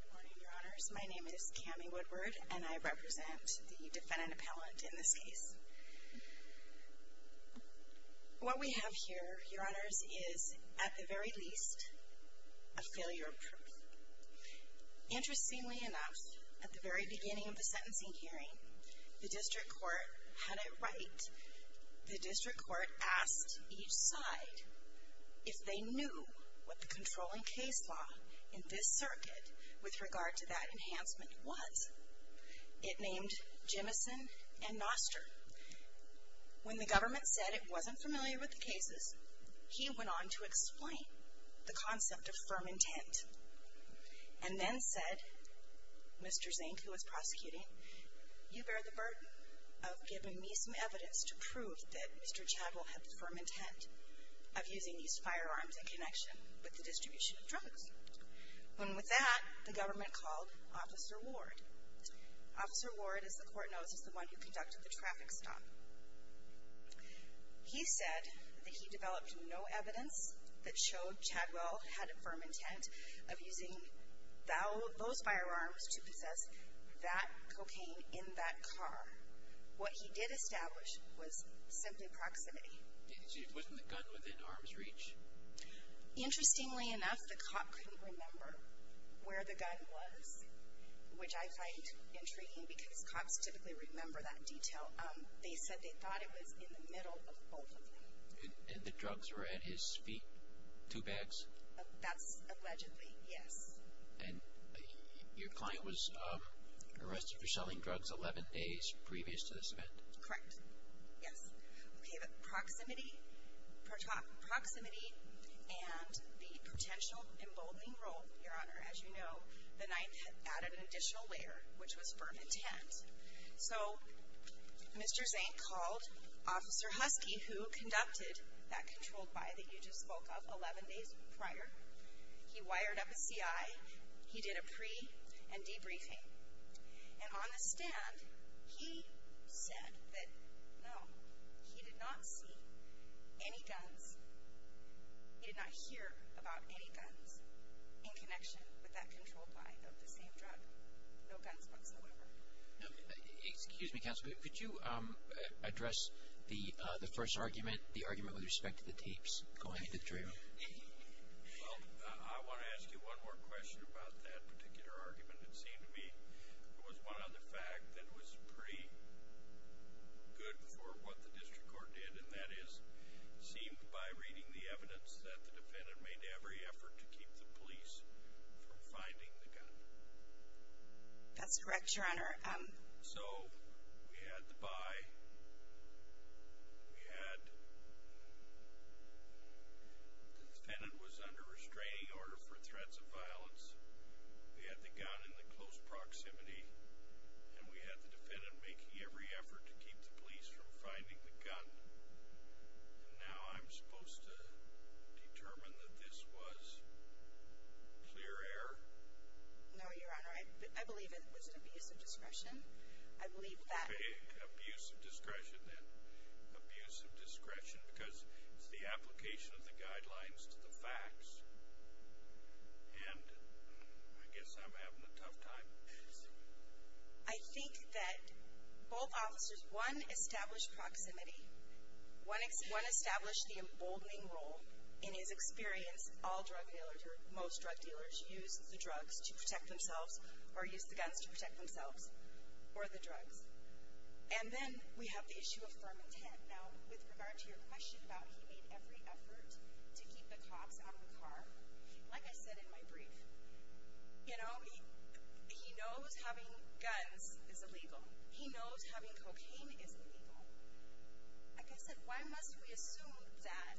Good morning, Your Honors. My name is Cammie Woodward, and I represent the defendant appellant in this case. What we have here, Your Honors, is, at the very least, a failure of proof. Interestingly enough, at the very beginning of the sentencing hearing, the District Court had it right. The District Court asked each side if they knew what the controlling case law in this circuit with regard to that enhancement was. It named Jimmison and Noster. When the government said it wasn't familiar with the cases, he went on to explain the concept of firm intent, and then said, Mr. Zink, who was prosecuting, you bear the burden of giving me some evidence to prove that Mr. Chadwell had the firm intent of using these firearms in connection with the distribution of drugs. And with that, the government called Officer Ward. Officer Ward, as the court knows, is the one who conducted the traffic stop. He said that he developed no evidence that showed Chadwell had a firm intent of using those firearms to possess that cocaine in that car. What he did establish was simply proximity. He didn't say, wasn't the gun within arm's reach? Interestingly enough, the cop couldn't remember where the gun was, which I find intriguing because cops typically remember that detail. They said they thought it was in the middle of both of them. And the drugs were at his feet? Two bags? That's allegedly, yes. And your client was arrested for selling drugs 11 days previous to this event? Correct. Yes. Okay, but proximity and the potential emboldening role, Your Honor, as you know, the knife added an additional layer, which was firm intent. So Mr. Zink called Officer Husky, who conducted that controlled buy that you just spoke of 11 days prior. He wired up a CI. He did a pre and debriefing. And on the stand, he said that, no, he did not see any guns. He did not hear about any guns in connection with that controlled buy of the same drug. No guns whatsoever. Excuse me, counsel, but could you address the first argument, the argument with respect to the tapes? Go ahead. Well, I want to ask you one more question about that particular argument. It seemed to me there was one other fact that was pretty good for what the district court did, and that is it seemed by reading the evidence that the defendant made every effort to keep the police from finding the gun. That's correct, Your Honor. So we had the buy. We had the defendant was under restraining order for threats of violence. We had the gun in the close proximity. And we had the defendant making every effort to keep the police from finding the gun. And now I'm supposed to determine that this was clear error? No, Your Honor. I believe it was an abuse of discretion. Abuse of discretion. Abuse of discretion because it's the application of the guidelines to the facts. And I guess I'm having a tough time. I think that both officers, one established proximity. One established the emboldening role in his experience. All drug dealers or most drug dealers use the drugs to protect themselves or use the guns to protect themselves or the drugs. And then we have the issue of firm intent. Now, with regard to your question about he made every effort to keep the cops out of the car, like I said in my brief, you know, he knows having guns is illegal. He knows having cocaine is illegal. Like I said, why must we assume that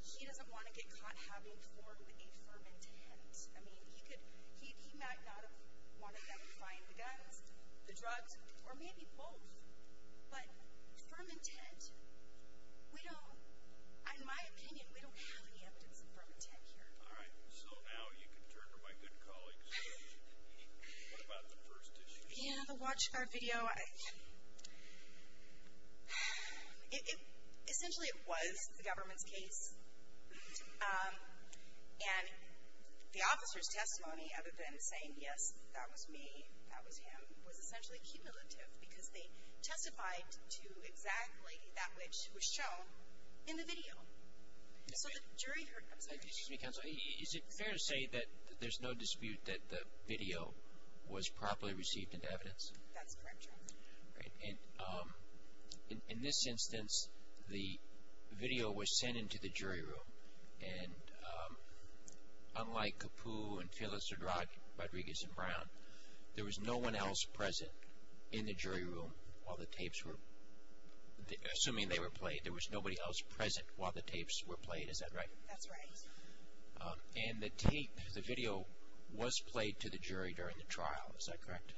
he doesn't want to get caught having formed a firm intent? I mean, he might not have wanted them to find the guns, the drugs, or maybe both. But firm intent, we don't, in my opinion, we don't have any evidence of firm intent here. All right. So now you can turn to my good colleagues. What about the first issue? Yeah, the watch guard video. Essentially it was the government's case. And the officer's testimony, other than saying, yes, that was me, that was him, was essentially cumulative because they testified to exactly that which was shown in the video. So the jury heard, I'm sorry. Excuse me, counsel. Is it fair to say that there's no dispute that the video was properly received into evidence? That's correct, Your Honor. All right. And in this instance, the video was sent into the jury room. And unlike Capu and Phyllis O'Drodd, Rodriguez and Brown, there was no one else present in the jury room while the tapes were, assuming they were played, there was nobody else present while the tapes were played. Is that right? That's right. And the tape, the video, was played to the jury during the trial. Is that correct?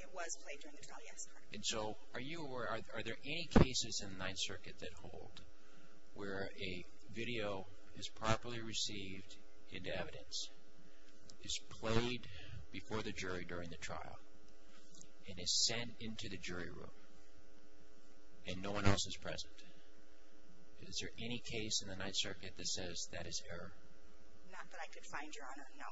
It was played during the trial, yes. And so are you aware, are there any cases in the Ninth Circuit that hold where a video is properly received into evidence, is played before the jury during the trial, and is sent into the jury room, and no one else is present? Is there any case in the Ninth Circuit that says that is error? Not that I could find, Your Honor, no.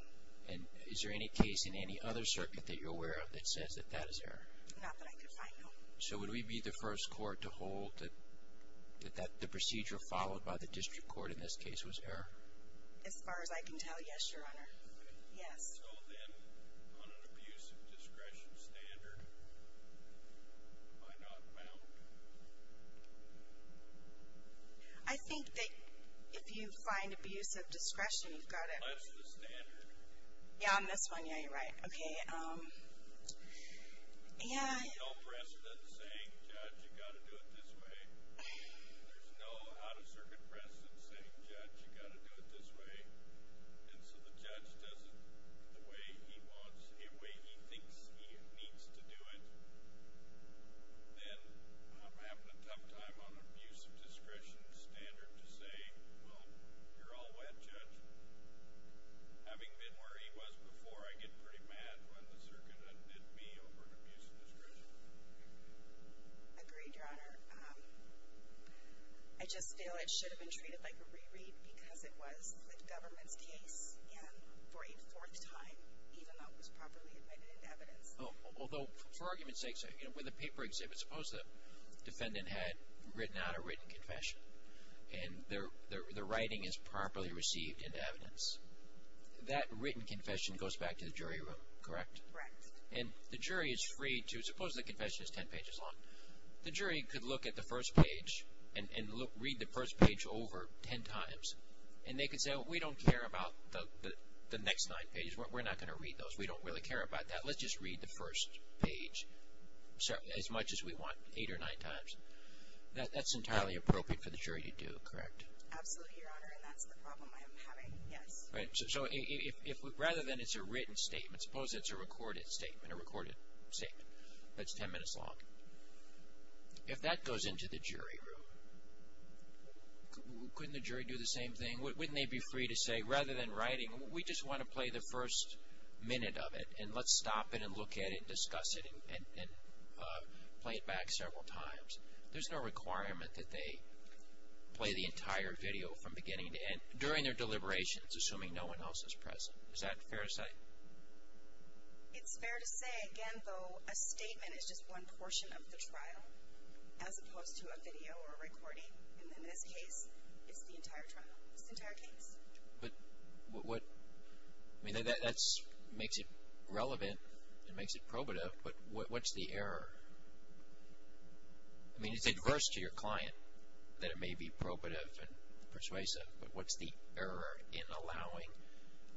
And is there any case in any other circuit that you're aware of that says that that is error? Not that I could find, no. So would we be the first court to hold that the procedure followed by the district court in this case was error? As far as I can tell, yes, Your Honor, yes. So then, on an abuse of discretion standard, am I not bound? I think that if you find abuse of discretion, you've got to... That's the standard. Yeah, on this one, yeah, you're right. Okay, yeah. There's no precedent saying, Judge, you've got to do it this way. There's no out-of-circuit precedent saying, Judge, you've got to do it this way. And so the judge does it the way he wants, the way he thinks he needs to do it. Then I'm having a tough time on abuse of discretion standard to say, well, you're all wet, Judge. Having been where he was before, I get pretty mad when the circuit undid me over abuse of discretion. Agreed, Your Honor. I just feel it should have been treated like a reread because it was the government's case for a fourth time, even though it was properly admitted into evidence. Although, for argument's sake, with a paper exhibit, suppose the defendant had written out a written confession and the writing is properly received into evidence. That written confession goes back to the jury room, correct? Correct. And the jury is free to... suppose the confession is ten pages long. The jury could look at the first page and read the first page over ten times, and they could say, well, we don't care about the next nine pages. We're not going to read those. We don't really care about that. Let's just read the first page as much as we want, eight or nine times. That's entirely appropriate for the jury to do, correct? Absolutely, Your Honor, and that's the problem I'm having, yes. So rather than it's a written statement, suppose it's a recorded statement, a recorded statement that's ten minutes long. If that goes into the jury room, couldn't the jury do the same thing? Wouldn't they be free to say, rather than writing, we just want to play the first minute of it, and let's stop it and look at it and discuss it and play it back several times. There's no requirement that they play the entire video from beginning to end during their deliberations, assuming no one else is present. Is that fair to say? It's fair to say. Again, though, a statement is just one portion of the trial, as opposed to a video or a recording. And in this case, it's the entire trial. It's the entire case. But what – I mean, that makes it relevant. It makes it probative. But what's the error? I mean, it's adverse to your client that it may be probative and persuasive, but what's the error in allowing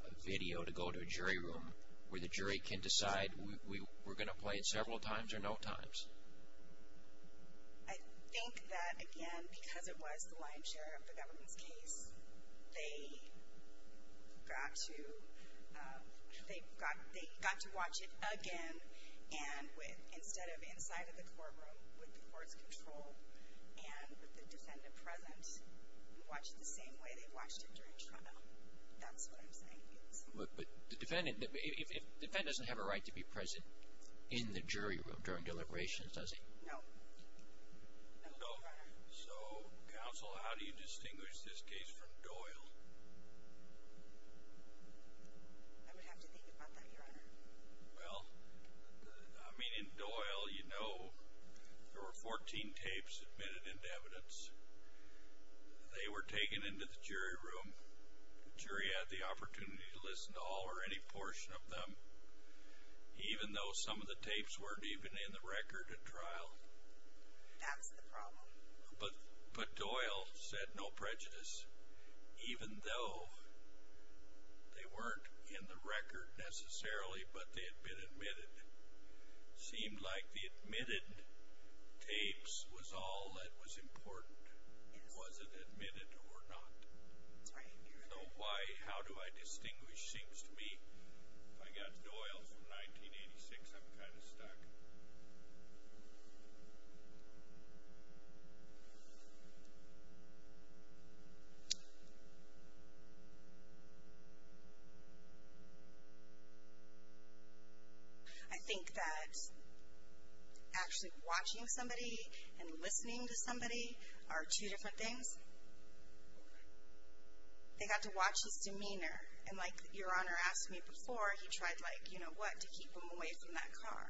a video to go to a jury room where the jury can decide we're going to play it several times or no times? I think that, again, because it was the lion's share of the government's case, they got to watch it again, and instead of inside of the courtroom with the court's control and with the defendant present, watch it the same way they watched it during trial. That's what I'm saying. But the defendant doesn't have a right to be present in the jury room during deliberations, does he? No. No. So, counsel, how do you distinguish this case from Doyle? I would have to think about that, Your Honor. Well, I mean, in Doyle, you know, there were 14 tapes admitted into evidence. They were taken into the jury room. The jury had the opportunity to listen to all or any portion of them, even though some of the tapes weren't even in the record at trial. That was the problem. But Doyle said no prejudice, even though they weren't in the record necessarily, but they had been admitted. It seemed like the admitted tapes was all that was important. It wasn't admitted or not. That's right, Your Honor. So how do I distinguish? It seems to me if I got Doyle from 1986, I'm kind of stuck. I think that actually watching somebody and listening to somebody are two different things. They got to watch his demeanor. And like Your Honor asked me before, he tried, like, you know what, to keep them away from that car.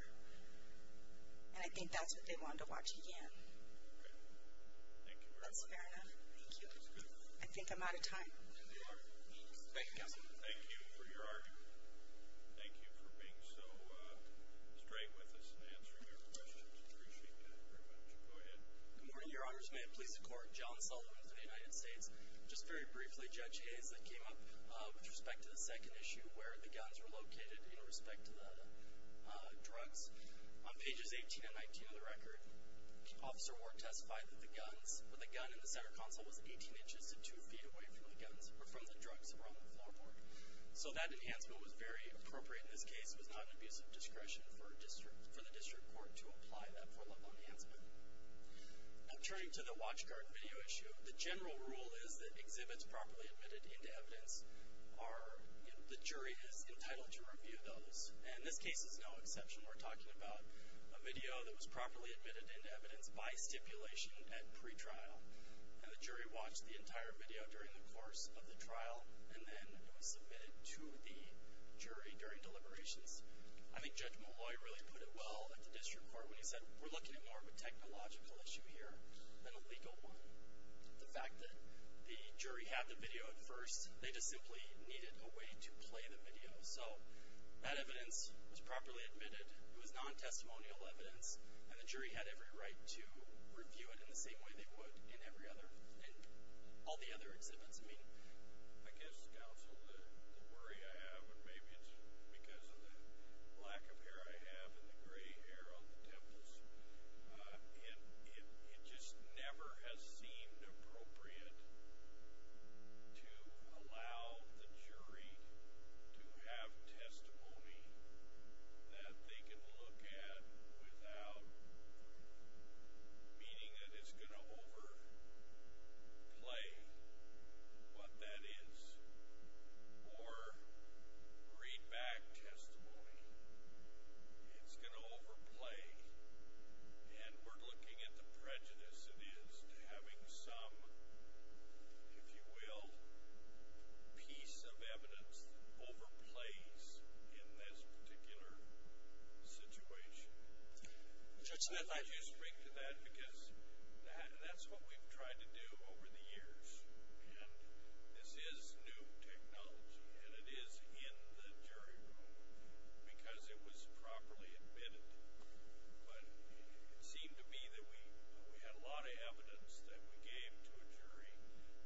And I think that's what they wanted to watch again. Okay. Thank you, Your Honor. That's fair enough. Thank you. I think I'm out of time. Thank you, Your Honor. Thank you, counsel. Thank you for your argument. Thank you for being so straight with us and answering our questions. I appreciate that very much. Go ahead. Good morning, Your Honors. May it please the Court. John Sullivan for the United States. Just very briefly, Judge Hayes, that came up with respect to the second issue where the guns were located in respect to the drugs. On pages 18 and 19 of the record, Officer Ward testified that the guns, that the gun in the center console was 18 inches to 2 feet away from the guns, or from the drugs that were on the floorboard. So that enhancement was very appropriate in this case. It was not an abuse of discretion for the district court to apply that four-level enhancement. Now, turning to the watch card video issue, the general rule is that exhibits properly admitted into evidence are, the jury is entitled to review those. And this case is no exception. We're talking about a video that was properly admitted into evidence by stipulation at pretrial. And the jury watched the entire video during the course of the trial, and then it was submitted to the jury during deliberations. I think Judge Molloy really put it well at the district court when he said, we're looking at more of a technological issue here than a legal one. The fact that the jury had the video at first, they just simply needed a way to play the video. So that evidence was properly admitted. It was non-testimonial evidence, and the jury had every right to review it in the same way they would in every other, in all the other exhibits. I mean, I guess counsel, the worry I have, and maybe it's because of the lack of hair I have and the gray hair on the temples, it just never has seemed appropriate to allow the jury to have testimony that they can look at without meaning that it's going to overplay what that is or read back testimony. It's going to overplay. And we're looking at the prejudice it is to having some, if you will, piece of evidence that overplays in this particular situation. Could you speak to that? Because that's what we've tried to do over the years. And this is new technology, and it is in the jury room because it was properly admitted. But it seemed to be that we had a lot of evidence that we gave to a jury,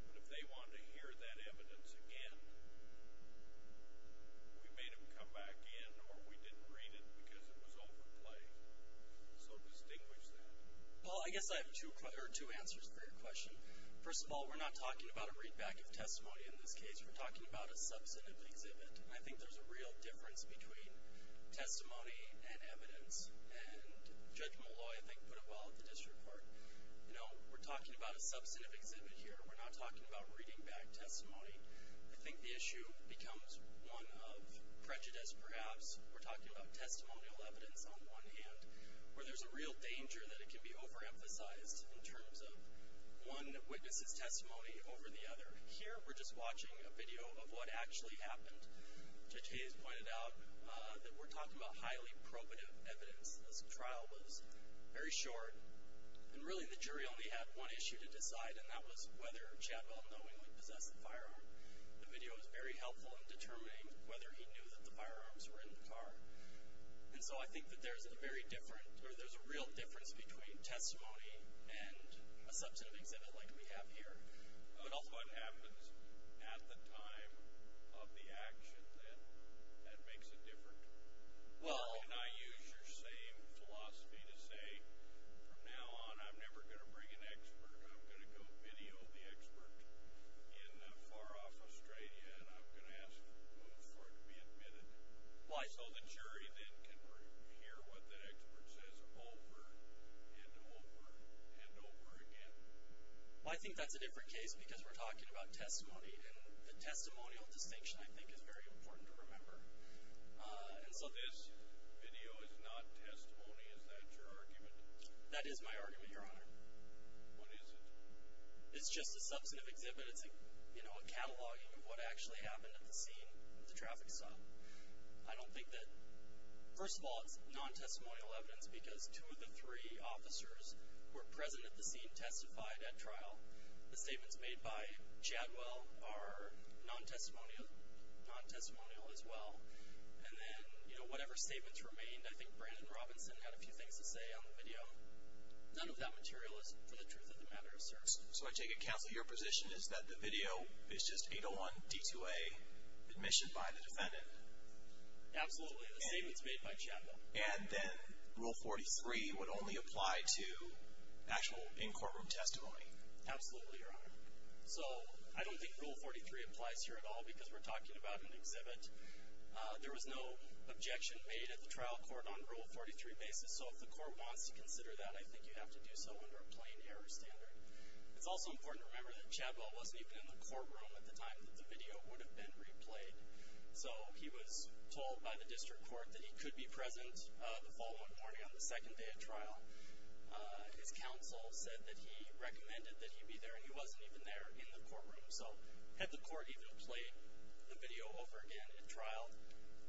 but if they wanted to hear that evidence again, we made them come back in or we didn't read it because it was overplay. So distinguish that. Well, I guess I have two answers for your question. First of all, we're not talking about a readback of testimony in this case. We're talking about a substantive exhibit, and I think there's a real difference between testimony and evidence. And Judge Molloy, I think, put it well at the district court. You know, we're talking about a substantive exhibit here. We're not talking about reading back testimony. I think the issue becomes one of prejudice, perhaps. We're talking about testimonial evidence on one hand, where there's a real danger that it can be overemphasized in terms of one witness's testimony over the other. Here we're just watching a video of what actually happened. Judge Hayes pointed out that we're talking about highly probative evidence. This trial was very short, and really the jury only had one issue to decide, and that was whether Chatwell knowingly possessed the firearm. The video was very helpful in determining whether he knew that the firearms were in the car. So I think that there's a real difference between testimony and a substantive exhibit like we have here. What happens at the time of the action that makes it different? Can I use your same philosophy to say, from now on I'm never going to bring an expert. I'm going to go video the expert in far-off Australia, and I'm going to ask for it to be admitted. Why? So the jury then can hear what the expert says over and over and over again. I think that's a different case because we're talking about testimony, and the testimonial distinction I think is very important to remember. This video is not testimony. Is that your argument? That is my argument, Your Honor. What is it? It's just a substantive exhibit. I don't think that it's a cataloging of what actually happened at the scene, the traffic stop. I don't think that, first of all, it's non-testimonial evidence because two of the three officers who were present at the scene testified at trial. The statements made by Chatwell are non-testimonial as well. And then whatever statements remained, I think Brandon Robinson had a few things to say on the video. None of that material is for the truth of the matter asserted. So I take it, counsel, your position is that the video is just 801 D-2A admission by the defendant? Absolutely. The statements made by Chatwell. And then Rule 43 would only apply to actual in-courtroom testimony? Absolutely, Your Honor. So I don't think Rule 43 applies here at all because we're talking about an exhibit. There was no objection made at the trial court on Rule 43 basis. So if the court wants to consider that, I think you have to do so under a plain error standard. It's also important to remember that Chatwell wasn't even in the courtroom at the time that the video would have been replayed. So he was told by the district court that he could be present the following morning on the second day at trial. His counsel said that he recommended that he be there, and he wasn't even there in the courtroom. So had the court even played the video over again at trial,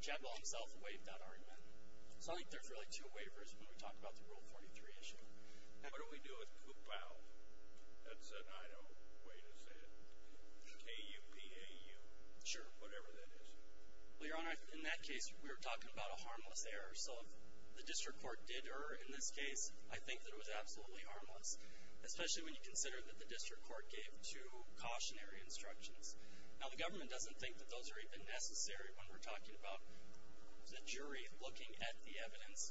Chatwell himself waived that argument. So I think there's really two waivers when we talk about the Rule 43 issue. What do we do with KUPAU? That's an Idaho way to say it. K-U-P-A-U. Sure. Whatever that is. Well, Your Honor, in that case, we were talking about a harmless error. So if the district court did err in this case, I think that it was absolutely harmless, especially when you consider that the district court gave two cautionary instructions. Now, the government doesn't think that those are even necessary when we're talking about the jury looking at the evidence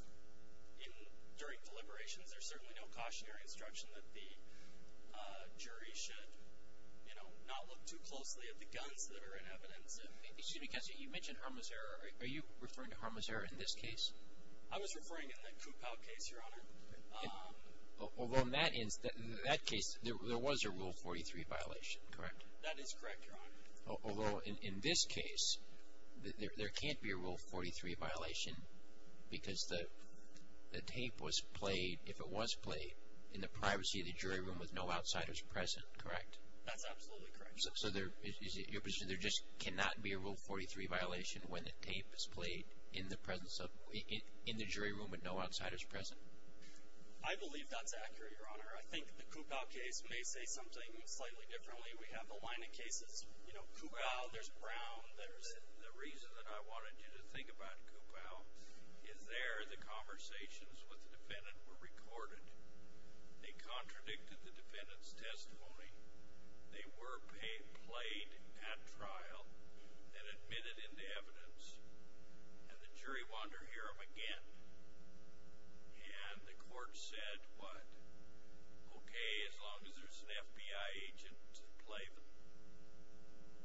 during deliberations. There's certainly no cautionary instruction that the jury should not look too closely at the guns that are in evidence. Excuse me, Counselor, you mentioned harmless error. Are you referring to harmless error in this case? I was referring to the KUPAU case, Your Honor. Although in that case, there was a Rule 43 violation, correct? That is correct, Your Honor. Although in this case, there can't be a Rule 43 violation because the tape was played, if it was played, in the privacy of the jury room with no outsiders present, correct? That's absolutely correct. So there just cannot be a Rule 43 violation when the tape is played in the jury room with no outsiders present? I believe that's accurate, Your Honor. I think the KUPAU case may say something slightly differently. We have a line of cases, you know, KUPAU, there's Brown, there's... The reason that I wanted you to think about KUPAU is there, the conversations with the defendant were recorded. They contradicted the defendant's testimony. They were played at trial and admitted into evidence, and the jury wanted to hear them again. And the court said, what, okay, as long as there's an FBI agent to play them?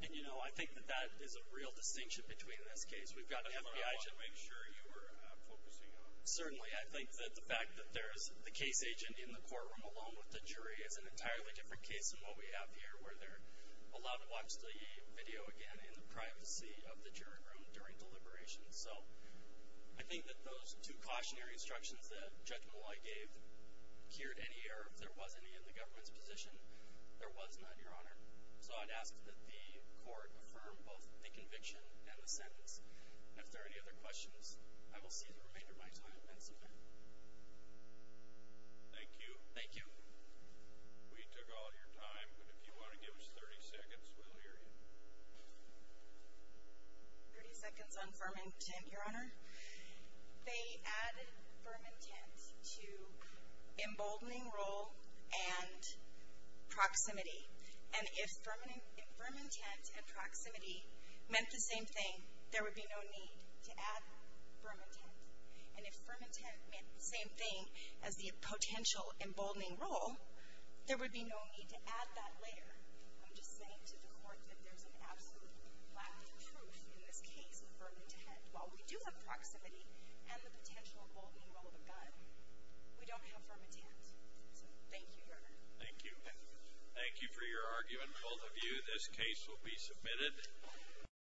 And, you know, I think that that is a real distinction between this case. We've got an FBI agent... I wanted to make sure you were focusing on that. Certainly. I think that the fact that there's the case agent in the courtroom alone with the jury is an entirely different case than what we have here, where they're allowed to watch the video again in the privacy of the jury room during deliberation. So I think that those two cautionary instructions that Judge Molloy gave cured any error. If there was any in the government's position, there was not, Your Honor. So I'd ask that the court affirm both the conviction and the sentence. And if there are any other questions, I will see the remainder of my time at Menson. Thank you. Thank you. We took all your time, but if you want to give us 30 seconds, we'll hear you. 30 seconds on firm intent, Your Honor. They added firm intent to emboldening role and proximity. And if firm intent and proximity meant the same thing, there would be no need to add firm intent. And if firm intent meant the same thing as the potential emboldening role, there would be no need to add that later. I'm just saying to the court that there's an absolute lack of truth in this case of firm intent. While we do have proximity and the potential emboldening role of a guideline, we don't have firm intent. So thank you, Your Honor. Thank you. Thank you for your argument, both of you. This case will be submitted.